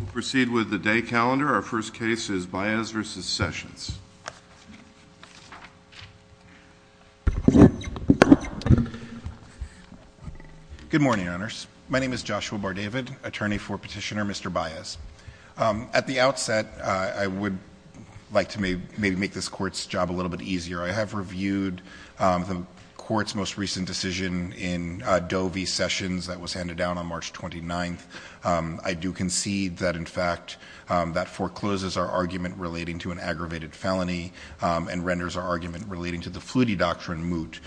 We'll proceed with the day calendar. Our first case is Baez v. Sessions. Good morning, Honors. My name is Joshua Bardavid, attorney for Petitioner Mr. Baez. At the outset, I would like to maybe make this Court's job a little bit easier. I have reviewed the Court's most recent decision in Doe v. Sessions that was handed down on March 29th. I do concede that, in fact, that forecloses our argument relating to an aggravated felony and renders our argument relating to the Flutie doctrine moot.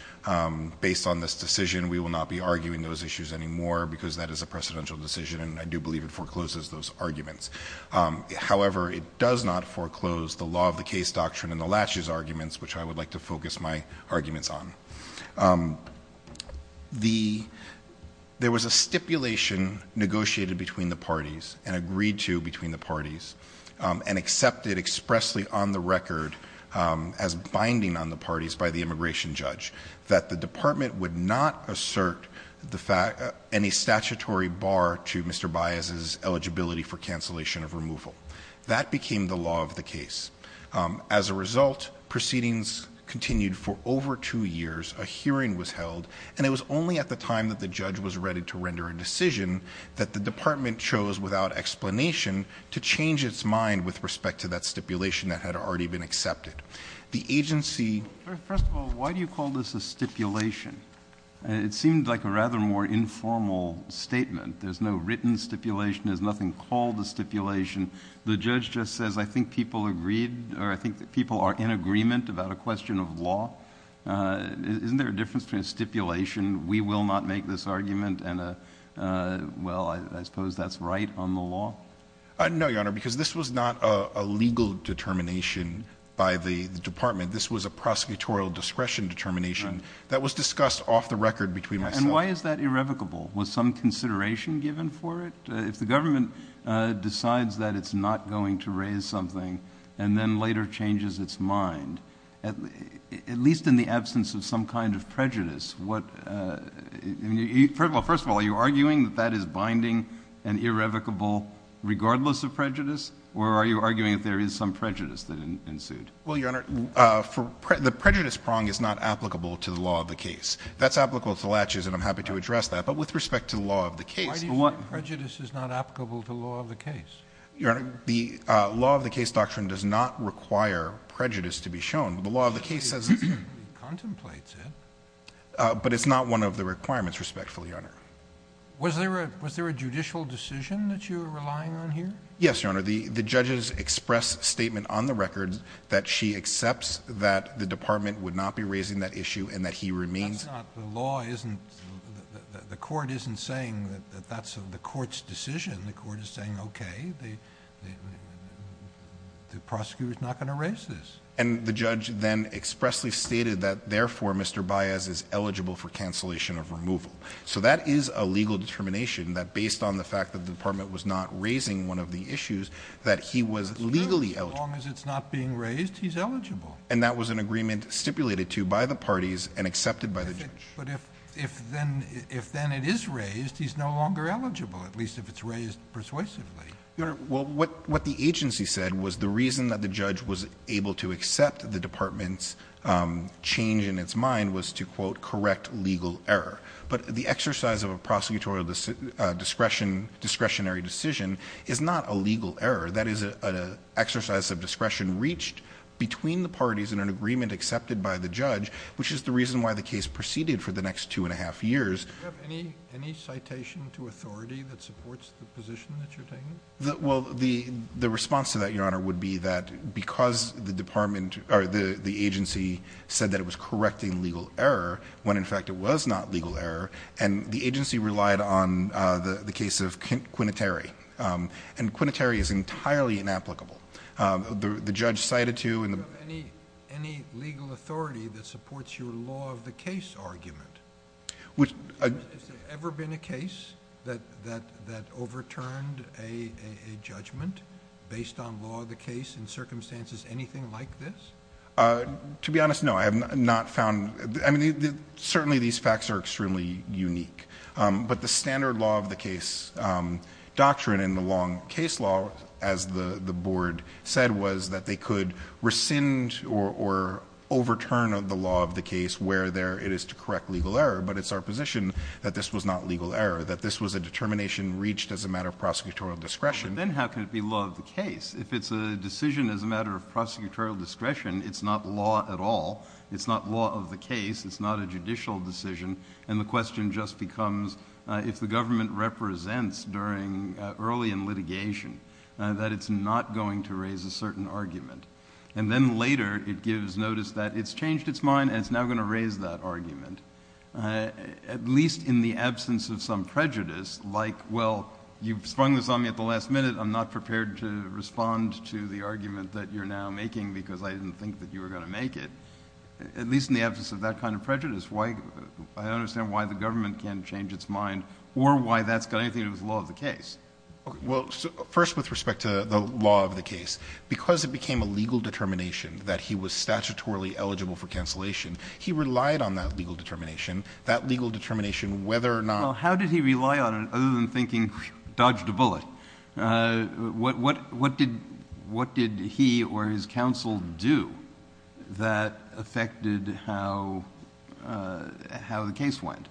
Based on this decision, we will not be arguing those issues anymore because that is a precedential decision, and I do believe it forecloses those arguments. However, it does not foreclose the Law of the Case doctrine and the Latches arguments, which I would like to focus my arguments on. There was a stipulation negotiated between the parties and agreed to between the parties and accepted expressly on the record as binding on the parties by the immigration judge that the Department would not assert any statutory bar to Mr. Baez's eligibility for cancellation of removal. That became the Law of the Case. As a result, proceedings continued for over two years, a hearing was held, and it was only at the time that the judge was ready to render a decision that the Department chose, without explanation, to change its mind with respect to that stipulation that had already been accepted. The agency... First of all, why do you call this a stipulation? It seemed like a rather more informal statement. There's no written stipulation. There's nothing called a stipulation. The judge just says, I think people agreed or I think that people are in agreement about a question of law. Isn't there a difference between a stipulation, we will not make this argument, and a, well, I suppose that's right on the law? No, Your Honor, because this was not a legal determination by the Department. This was a prosecutorial discretion determination that was discussed off the record between myself... And why is that irrevocable? Was some consideration given for it? If the government decides that it's not going to raise something and then later changes its mind, at least in the absence of some kind of prejudice, what... First of all, are you arguing that that is binding and irrevocable, regardless of prejudice? Or are you arguing that there is some prejudice that ensued? Well, Your Honor, the prejudice prong is not applicable to the law of the case. That's applicable to the latches, and I'm happy to address that. But with respect to the law of the case... Why do you think prejudice is not applicable to the law of the case? Your Honor, the law of the case doctrine does not require prejudice to be shown. The law of the case says... It certainly contemplates it. But it's not one of the requirements, respectfully, Your Honor. Was there a judicial decision that you were relying on here? Yes, Your Honor. The judges expressed statement on the record that she accepts that the Department would not be raising that issue and that he remains... That's not... The law isn't... The court isn't saying that that's the court's decision. The court is saying, okay, the prosecutor is not going to raise this. And the judge then expressly stated that, therefore, Mr. Baez is eligible for cancellation of removal. So that is a legal determination that, based on the fact that the Department was not raising one of the issues, that he was legally eligible. As long as it's not being raised, he's eligible. And that was an agreement stipulated to by the parties and accepted by the judge. But if then it is raised, he's no longer eligible, at least if it's raised persuasively. Your Honor, what the agency said was the reason that the judge was able to accept the Department's change in its mind was to, quote, correct legal error. But the exercise of a prosecutorial discretionary decision is not a legal error. That is an exercise of discretion reached between the parties in an agreement accepted by the judge, which is the reason why the case proceeded for the next two and a half years. Do you have any citation to authority that supports the position that you're taking? Well, the response to that, Your Honor, would be that because the agency said that it was correcting legal error, when, in fact, it was not legal error, and the agency relied on the case of Quinitary. And Quinitary is entirely inapplicable. The judge cited to in the- Do you have any legal authority that supports your law of the case argument? Which- Has there ever been a case that overturned a judgment based on law of the case in circumstances anything like this? To be honest, no. I have not found- I mean, certainly these facts are extremely unique. But the standard law of the case doctrine in the long case law, as the board said, was that they could rescind or overturn the law of the case where there it is to correct legal error. But it's our position that this was not legal error, that this was a determination reached as a matter of prosecutorial discretion. But then how can it be law of the case? If it's a decision as a matter of prosecutorial discretion, it's not law at all. It's not law of the case. It's not a judicial decision. And the question just becomes, if the government represents during early in litigation, that it's not going to raise a certain argument. And then later it gives notice that it's changed its mind and it's now going to raise that argument. At least in the absence of some prejudice, like, well, you've sprung this on me at the last minute. I'm not prepared to respond to the argument that you're now making because I didn't think that you were going to make it. At least in the absence of that kind of prejudice. I don't understand why the government can't change its mind or why that's got anything to do with law of the case. Well, first, with respect to the law of the case, because it became a legal determination that he was statutorily eligible for cancellation, he relied on that legal determination, that legal determination whether or not. Well, how did he rely on it other than thinking, dodged a bullet? What did he or his counsel do that affected how the case went?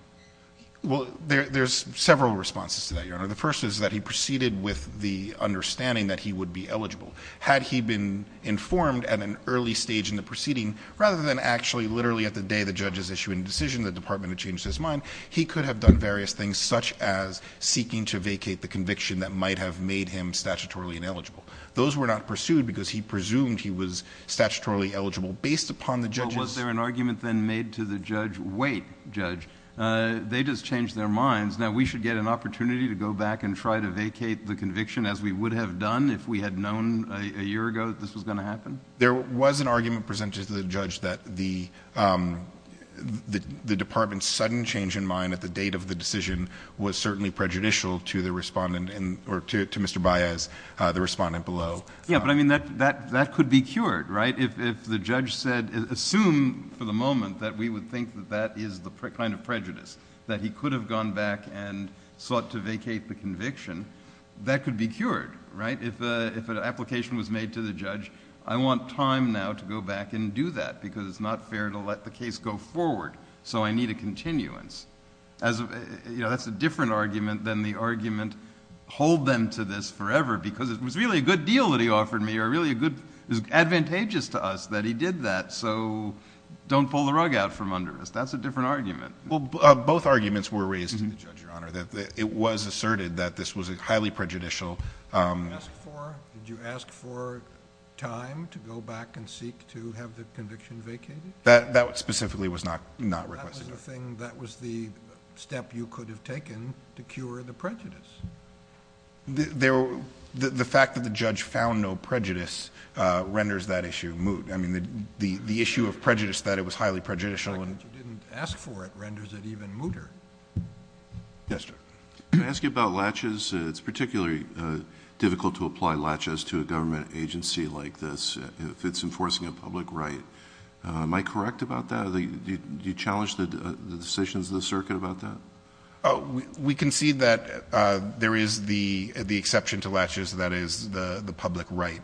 Well, there's several responses to that, Your Honor. The first is that he proceeded with the understanding that he would be eligible. Had he been informed at an early stage in the proceeding, rather than actually literally at the day the judge is issuing a decision, the department had changed his mind, he could have done various things such as seeking to vacate the conviction that might have made him statutorily ineligible. Those were not pursued because he presumed he was statutorily eligible based upon the judge's. Was there an argument then made to the judge? Wait, judge, they just changed their minds. Now, we should get an opportunity to go back and try to vacate the conviction as we would have done if we had known a year ago that this was going to happen? There was an argument presented to the judge that the department's sudden change in mind at the date of the decision was certainly prejudicial to the respondent or to Mr. Baez, the respondent below. Yeah, but I mean that could be cured, right? If the judge said, assume for the moment that we would think that that is the kind of prejudice, that he could have gone back and sought to vacate the conviction, that could be cured, right? If an application was made to the judge, I want time now to go back and do that because it's not fair to let the case go forward, so I need a continuance. That's a different argument than the argument, hold them to this forever because it was really a good deal that he offered me or really a good advantageous to us that he did that, so don't pull the rug out from under us. That's a different argument. Well, both arguments were raised to the judge, Your Honor, that it was asserted that this was a highly prejudicial. Did you ask for time to go back and seek to have the conviction vacated? That specifically was not requested. That was the thing, that was the step you could have taken to cure the prejudice. The fact that the judge found no prejudice renders that issue moot. I mean the issue of prejudice that it was highly prejudicial. The fact that you didn't ask for it renders it even mooter. Yes, Judge. Can I ask you about laches? It's particularly difficult to apply laches to a government agency like this if it's enforcing a public right. Am I correct about that? Do you challenge the decisions of the circuit about that? We concede that there is the exception to laches that is the public right,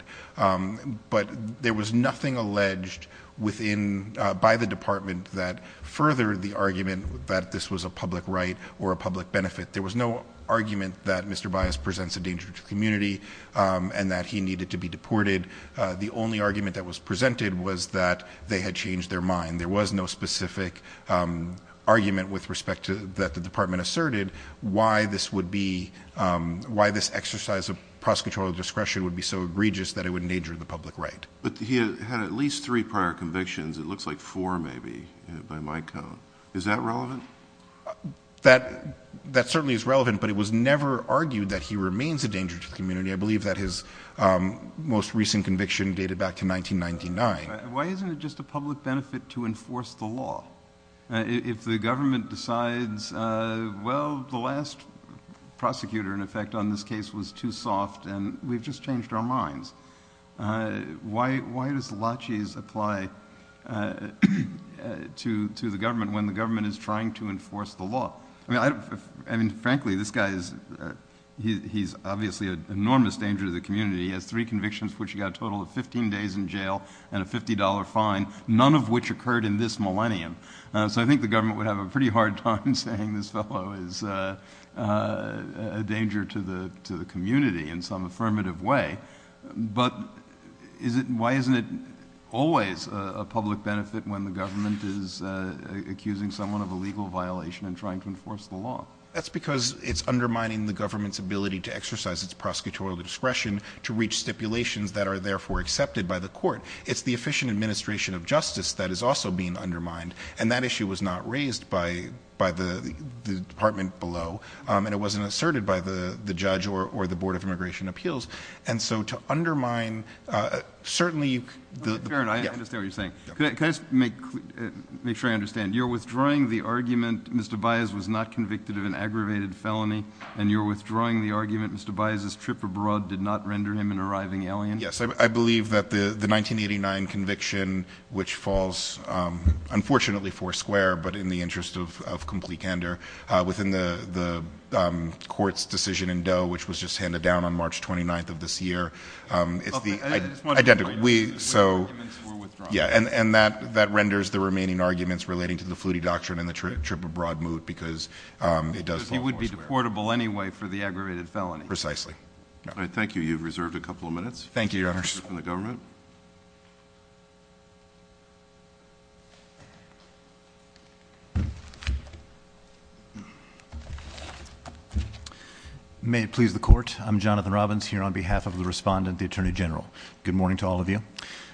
but there was nothing alleged by the department that furthered the argument that this was a public right or a public benefit. There was no argument that Mr. Bias presents a danger to the community and that he needed to be deported. The only argument that was presented was that they had changed their mind. There was no specific argument with respect to that the department asserted why this exercise of prosecutorial discretion would be so egregious that it would endanger the public right. But he had at least three prior convictions. It looks like four maybe by my count. Is that relevant? That certainly is relevant, but it was never argued that he remains a danger to the community. I believe that his most recent conviction dated back to 1999. Why isn't it just a public benefit to enforce the law? If the government decides, well, the last prosecutor, in effect, on this case was too soft and we've just changed our minds, why does laches apply to the government when the government is trying to enforce the law? Frankly, this guy is obviously an enormous danger to the community. He has three convictions for which he got a total of 15 days in jail and a $50 fine, none of which occurred in this millennium. So I think the government would have a pretty hard time saying this fellow is a danger to the community in some affirmative way. But why isn't it always a public benefit when the government is accusing someone of a legal violation and trying to enforce the law? That's because it's undermining the government's ability to exercise its prosecutorial discretion to reach stipulations that are therefore accepted by the court. It's the efficient administration of justice that is also being undermined, and that issue was not raised by the department below, and it wasn't asserted by the judge or the Board of Immigration Appeals. And so to undermine certainly the – Mr. Barron, I understand what you're saying. Can I just make sure I understand? You're withdrawing the argument Mr. Baez was not convicted of an aggravated felony, and you're withdrawing the argument Mr. Baez's trip abroad did not render him an arriving alien? Yes. I believe that the 1989 conviction, which falls, unfortunately, four square, but in the interest of complete candor, within the court's decision in Doe, which was just handed down on March 29th of this year. It's the – I just want to clarify. So – The arguments were withdrawn. Yeah, and that renders the remaining arguments relating to the Flutie doctrine and the trip abroad moot because it does fall four square. Because he would be deportable anyway for the aggravated felony. Precisely. All right. Thank you. You have reserved a couple of minutes. Thank you, Your Honors. For the government. May it please the court. I'm Jonathan Robbins here on behalf of the respondent, the Attorney General. Good morning to all of you.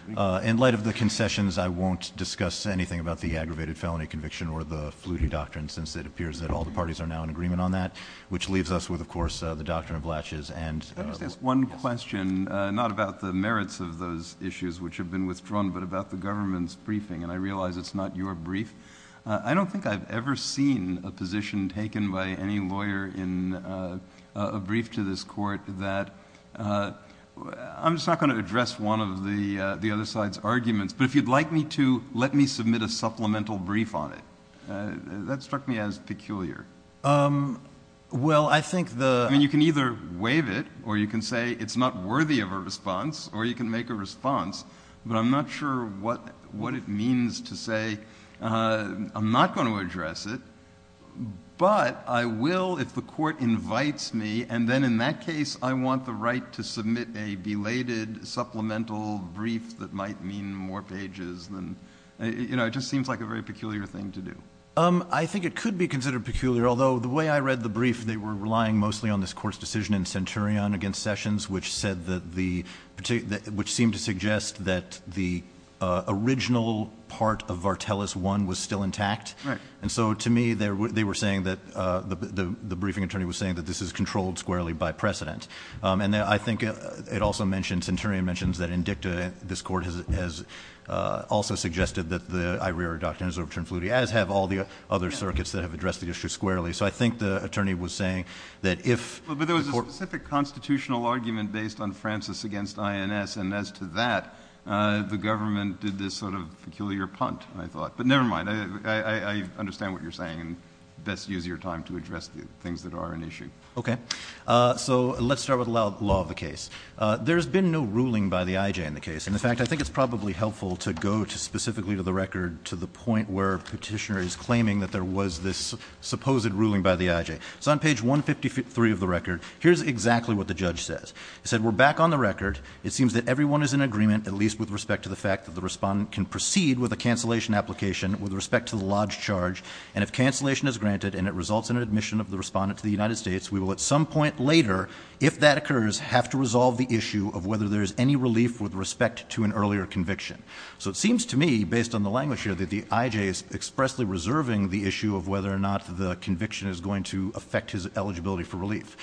In light of the concessions, I won't discuss anything about the aggravated felony conviction or the Flutie doctrine since it appears that all the parties are now in agreement on that, which leaves us with, of course, the doctrine of Blatches and – Let me just ask one question, not about the merits of those issues which have been withdrawn, but about the government's briefing. And I realize it's not your brief. I don't think I've ever seen a position taken by any lawyer in a brief to this court that – I'm just not going to address one of the other side's arguments. But if you'd like me to, let me submit a supplemental brief on it. That struck me as peculiar. Well, I think the – I mean, you can either waive it or you can say it's not worthy of a response or you can make a response. But I'm not sure what it means to say I'm not going to address it. But I will if the court invites me. And then in that case, I want the right to submit a belated supplemental brief that might mean more pages than – you know, it just seems like a very peculiar thing to do. I think it could be considered peculiar, although the way I read the brief, they were relying mostly on this court's decision in Centurion against Sessions, which said that the – which seemed to suggest that the original part of Vartelis I was still intact. Right. And so to me, they were saying that – the briefing attorney was saying that this is controlled squarely by precedent. And I think it also mentioned – Centurion mentions that Indicta, this court, has also suggested that the IRIRA doctrine is overturned fluidly, as have all the other circuits that have addressed the issue squarely. So I think the attorney was saying that if the court – But there was a specific constitutional argument based on Francis against INS. And as to that, the government did this sort of peculiar punt, I thought. But never mind. I understand what you're saying and best use your time to address the things that are an issue. Okay. So let's start with the law of the case. There has been no ruling by the IJ in the case. In fact, I think it's probably helpful to go specifically to the record to the point where Petitioner is claiming that there was this supposed ruling by the IJ. It's on page 153 of the record. Here's exactly what the judge says. He said, We're back on the record. It seems that everyone is in agreement, at least with respect to the fact that the respondent can proceed with a cancellation application with respect to the lodge charge. And if cancellation is granted and it results in an admission of the respondent to the United States, we will at some point later, if that occurs, have to resolve the issue of whether there is any relief with respect to an earlier conviction. So it seems to me, based on the language here, that the IJ is expressly reserving the issue of whether or not the conviction is going to affect his eligibility for relief.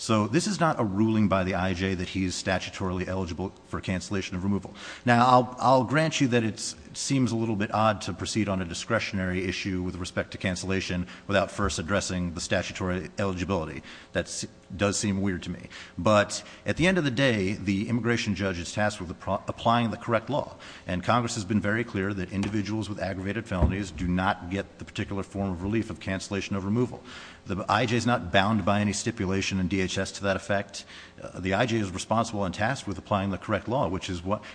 So this is not a ruling by the IJ that he is statutorily eligible for cancellation of removal. Now, I'll grant you that it seems a little bit odd to proceed on a discretionary issue with respect to cancellation without first addressing the statutory eligibility. That does seem weird to me. But at the end of the day, the immigration judge is tasked with applying the correct law. And Congress has been very clear that individuals with aggravated felonies do not get the particular form of relief of cancellation of removal. The IJ is not bound by any stipulation in DHS to that effect. The IJ is responsible and tasked with applying the correct law.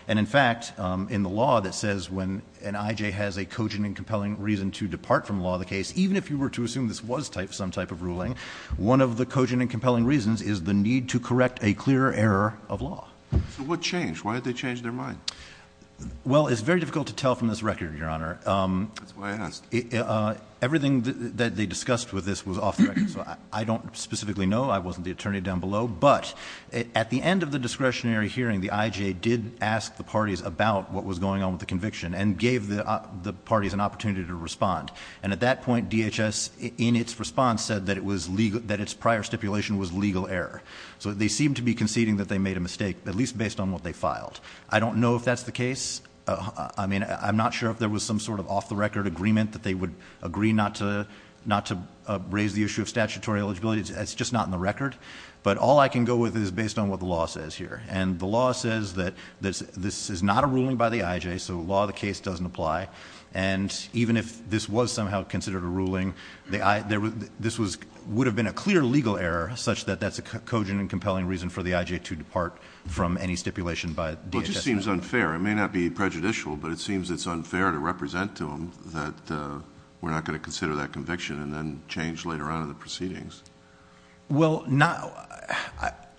And in fact, in the law that says when an IJ has a cogent and compelling reason to depart from the law of the case, even if you were to assume this was some type of ruling, one of the cogent and compelling reasons is the need to correct a clear error of law. So what changed? Why did they change their mind? Well, it's very difficult to tell from this record, Your Honor. That's why I asked. Everything that they discussed with this was off the record. So I don't specifically know. I wasn't the attorney down below. But at the end of the discretionary hearing, the IJ did ask the parties about what was going on with the conviction and gave the parties an opportunity to respond. And at that point, DHS, in its response, said that its prior stipulation was legal error. So they seem to be conceding that they made a mistake, at least based on what they filed. I don't know if that's the case. I mean, I'm not sure if there was some sort of off-the-record agreement that they would agree not to raise the issue of statutory eligibility. It's just not in the record. But all I can go with is based on what the law says here. And the law says that this is not a ruling by the IJ, so law of the case doesn't apply. And even if this was somehow considered a ruling, this would have been a clear legal error such that that's a cogent and compelling reason for the IJ to depart from any stipulation by DHS. Well, it just seems unfair. It may not be prejudicial, but it seems it's unfair to represent to them that we're not going to consider that conviction and then change later on in the proceedings. Well,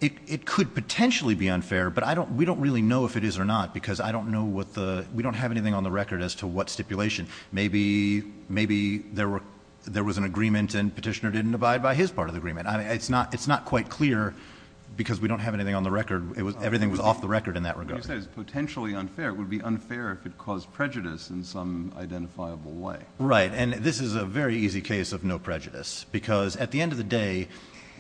it could potentially be unfair, but we don't really know if it is or not because we don't have anything on the record as to what stipulation. Maybe there was an agreement and Petitioner didn't abide by his part of the agreement. It's not quite clear because we don't have anything on the record. Everything was off the record in that regard. You said it's potentially unfair. It would be unfair if it caused prejudice in some identifiable way. Right, and this is a very easy case of no prejudice because at the end of the day,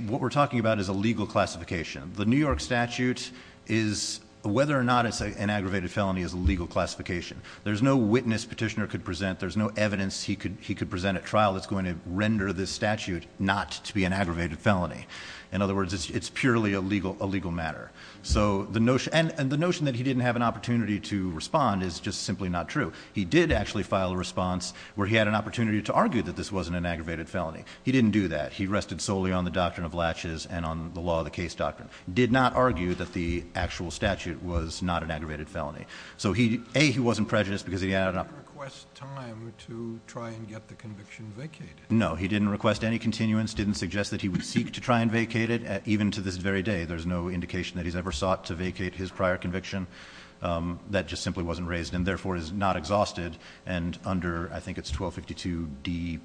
what we're talking about is a legal classification. The New York statute is, whether or not it's an aggravated felony, is a legal classification. There's no witness Petitioner could present. There's no evidence he could present at trial that's going to render this statute not to be an aggravated felony. In other words, it's purely a legal matter. And the notion that he didn't have an opportunity to respond is just simply not true. He did actually file a response where he had an opportunity to argue that this wasn't an aggravated felony. He didn't do that. He rested solely on the doctrine of latches and on the law of the case doctrine. Did not argue that the actual statute was not an aggravated felony. So he, A, he wasn't prejudiced because he had an opportunity. He didn't request time to try and get the conviction vacated. No, he didn't request any continuance. Didn't suggest that he would seek to try and vacate it. Even to this very day, there's no indication that he's ever sought to vacate his prior conviction. That just simply wasn't raised and therefore is not exhausted. And under, I think it's 1252D,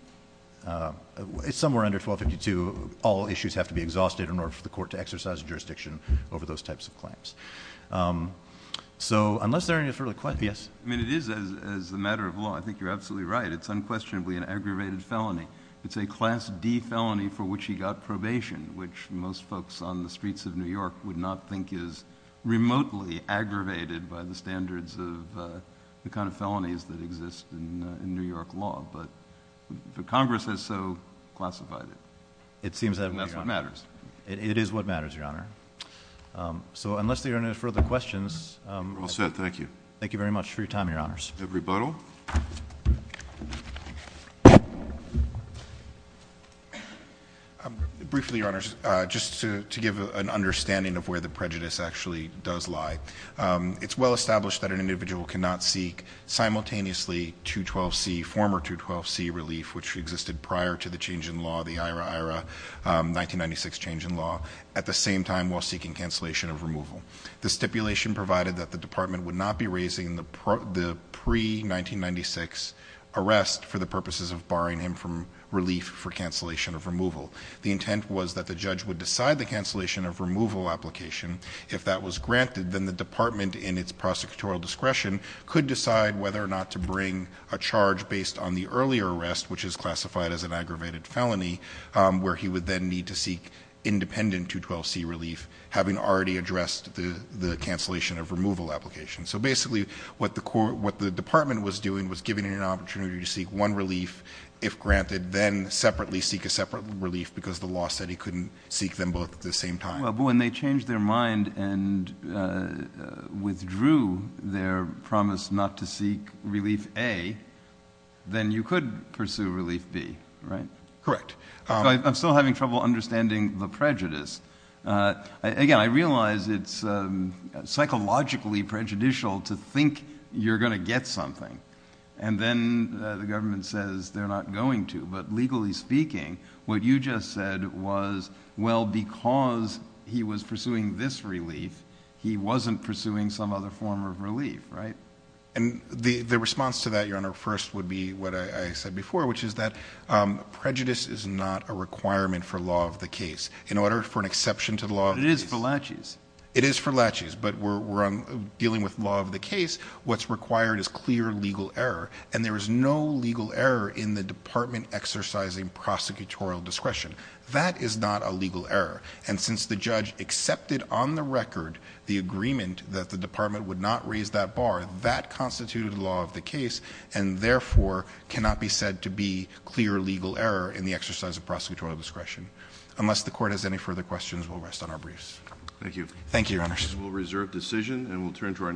somewhere under 1252, all issues have to be exhausted in order for the court to exercise jurisdiction over those types of claims. So, unless there are any further questions. Yes. I mean, it is, as a matter of law, I think you're absolutely right. It's unquestionably an aggravated felony. It's a Class D felony for which he got probation, which most folks on the streets of New York would not think is remotely aggravated by the standards of the kind of felonies that exist in New York law. But Congress has so classified it. It seems that, Your Honor. And that's what matters. It is what matters, Your Honor. So, unless there are any further questions. We're all set. Thank you. Thank you very much for your time, Your Honors. Everybody. Briefly, Your Honors, just to give an understanding of where the prejudice actually does lie. It's well established that an individual cannot seek simultaneously 212C, former 212C relief, which existed prior to the change in law, the IHRA-IHRA 1996 change in law, at the same time while seeking cancellation of removal. The stipulation provided that the department would not be raising the pre-1996 arrest for the purposes of barring him from relief for cancellation of removal. The intent was that the judge would decide the cancellation of removal application. If that was granted, then the department, in its prosecutorial discretion, could decide whether or not to bring a charge based on the earlier arrest, which is classified as an aggravated felony, where he would then need to seek independent 212C relief, having already addressed the cancellation of removal application. So, basically, what the department was doing was giving him an opportunity to seek one relief, if granted, then separately seek a separate relief because the law said he couldn't seek them both at the same time. Well, when they changed their mind and withdrew their promise not to seek relief A, then you could pursue relief B, right? Correct. I'm still having trouble understanding the prejudice. Again, I realize it's psychologically prejudicial to think you're going to get something, and then the government says they're not going to. But legally speaking, what you just said was, well, because he was pursuing this relief, he wasn't pursuing some other form of relief, right? And the response to that, Your Honor, first would be what I said before, which is that prejudice is not a requirement for law of the case. In order for an exception to the law of the case... It is for laches. It is for laches, but we're dealing with law of the case. What's required is clear legal error, and there is no legal error in the department exercising prosecutorial discretion. That is not a legal error. And since the judge accepted on the record the agreement that the department would not raise that bar, that constituted law of the case and, therefore, cannot be said to be clear legal error in the exercise of prosecutorial discretion. Unless the Court has any further questions, we'll rest on our briefs. Thank you. Thank you, Your Honors. We'll reserve decision, and we'll turn to our next witness.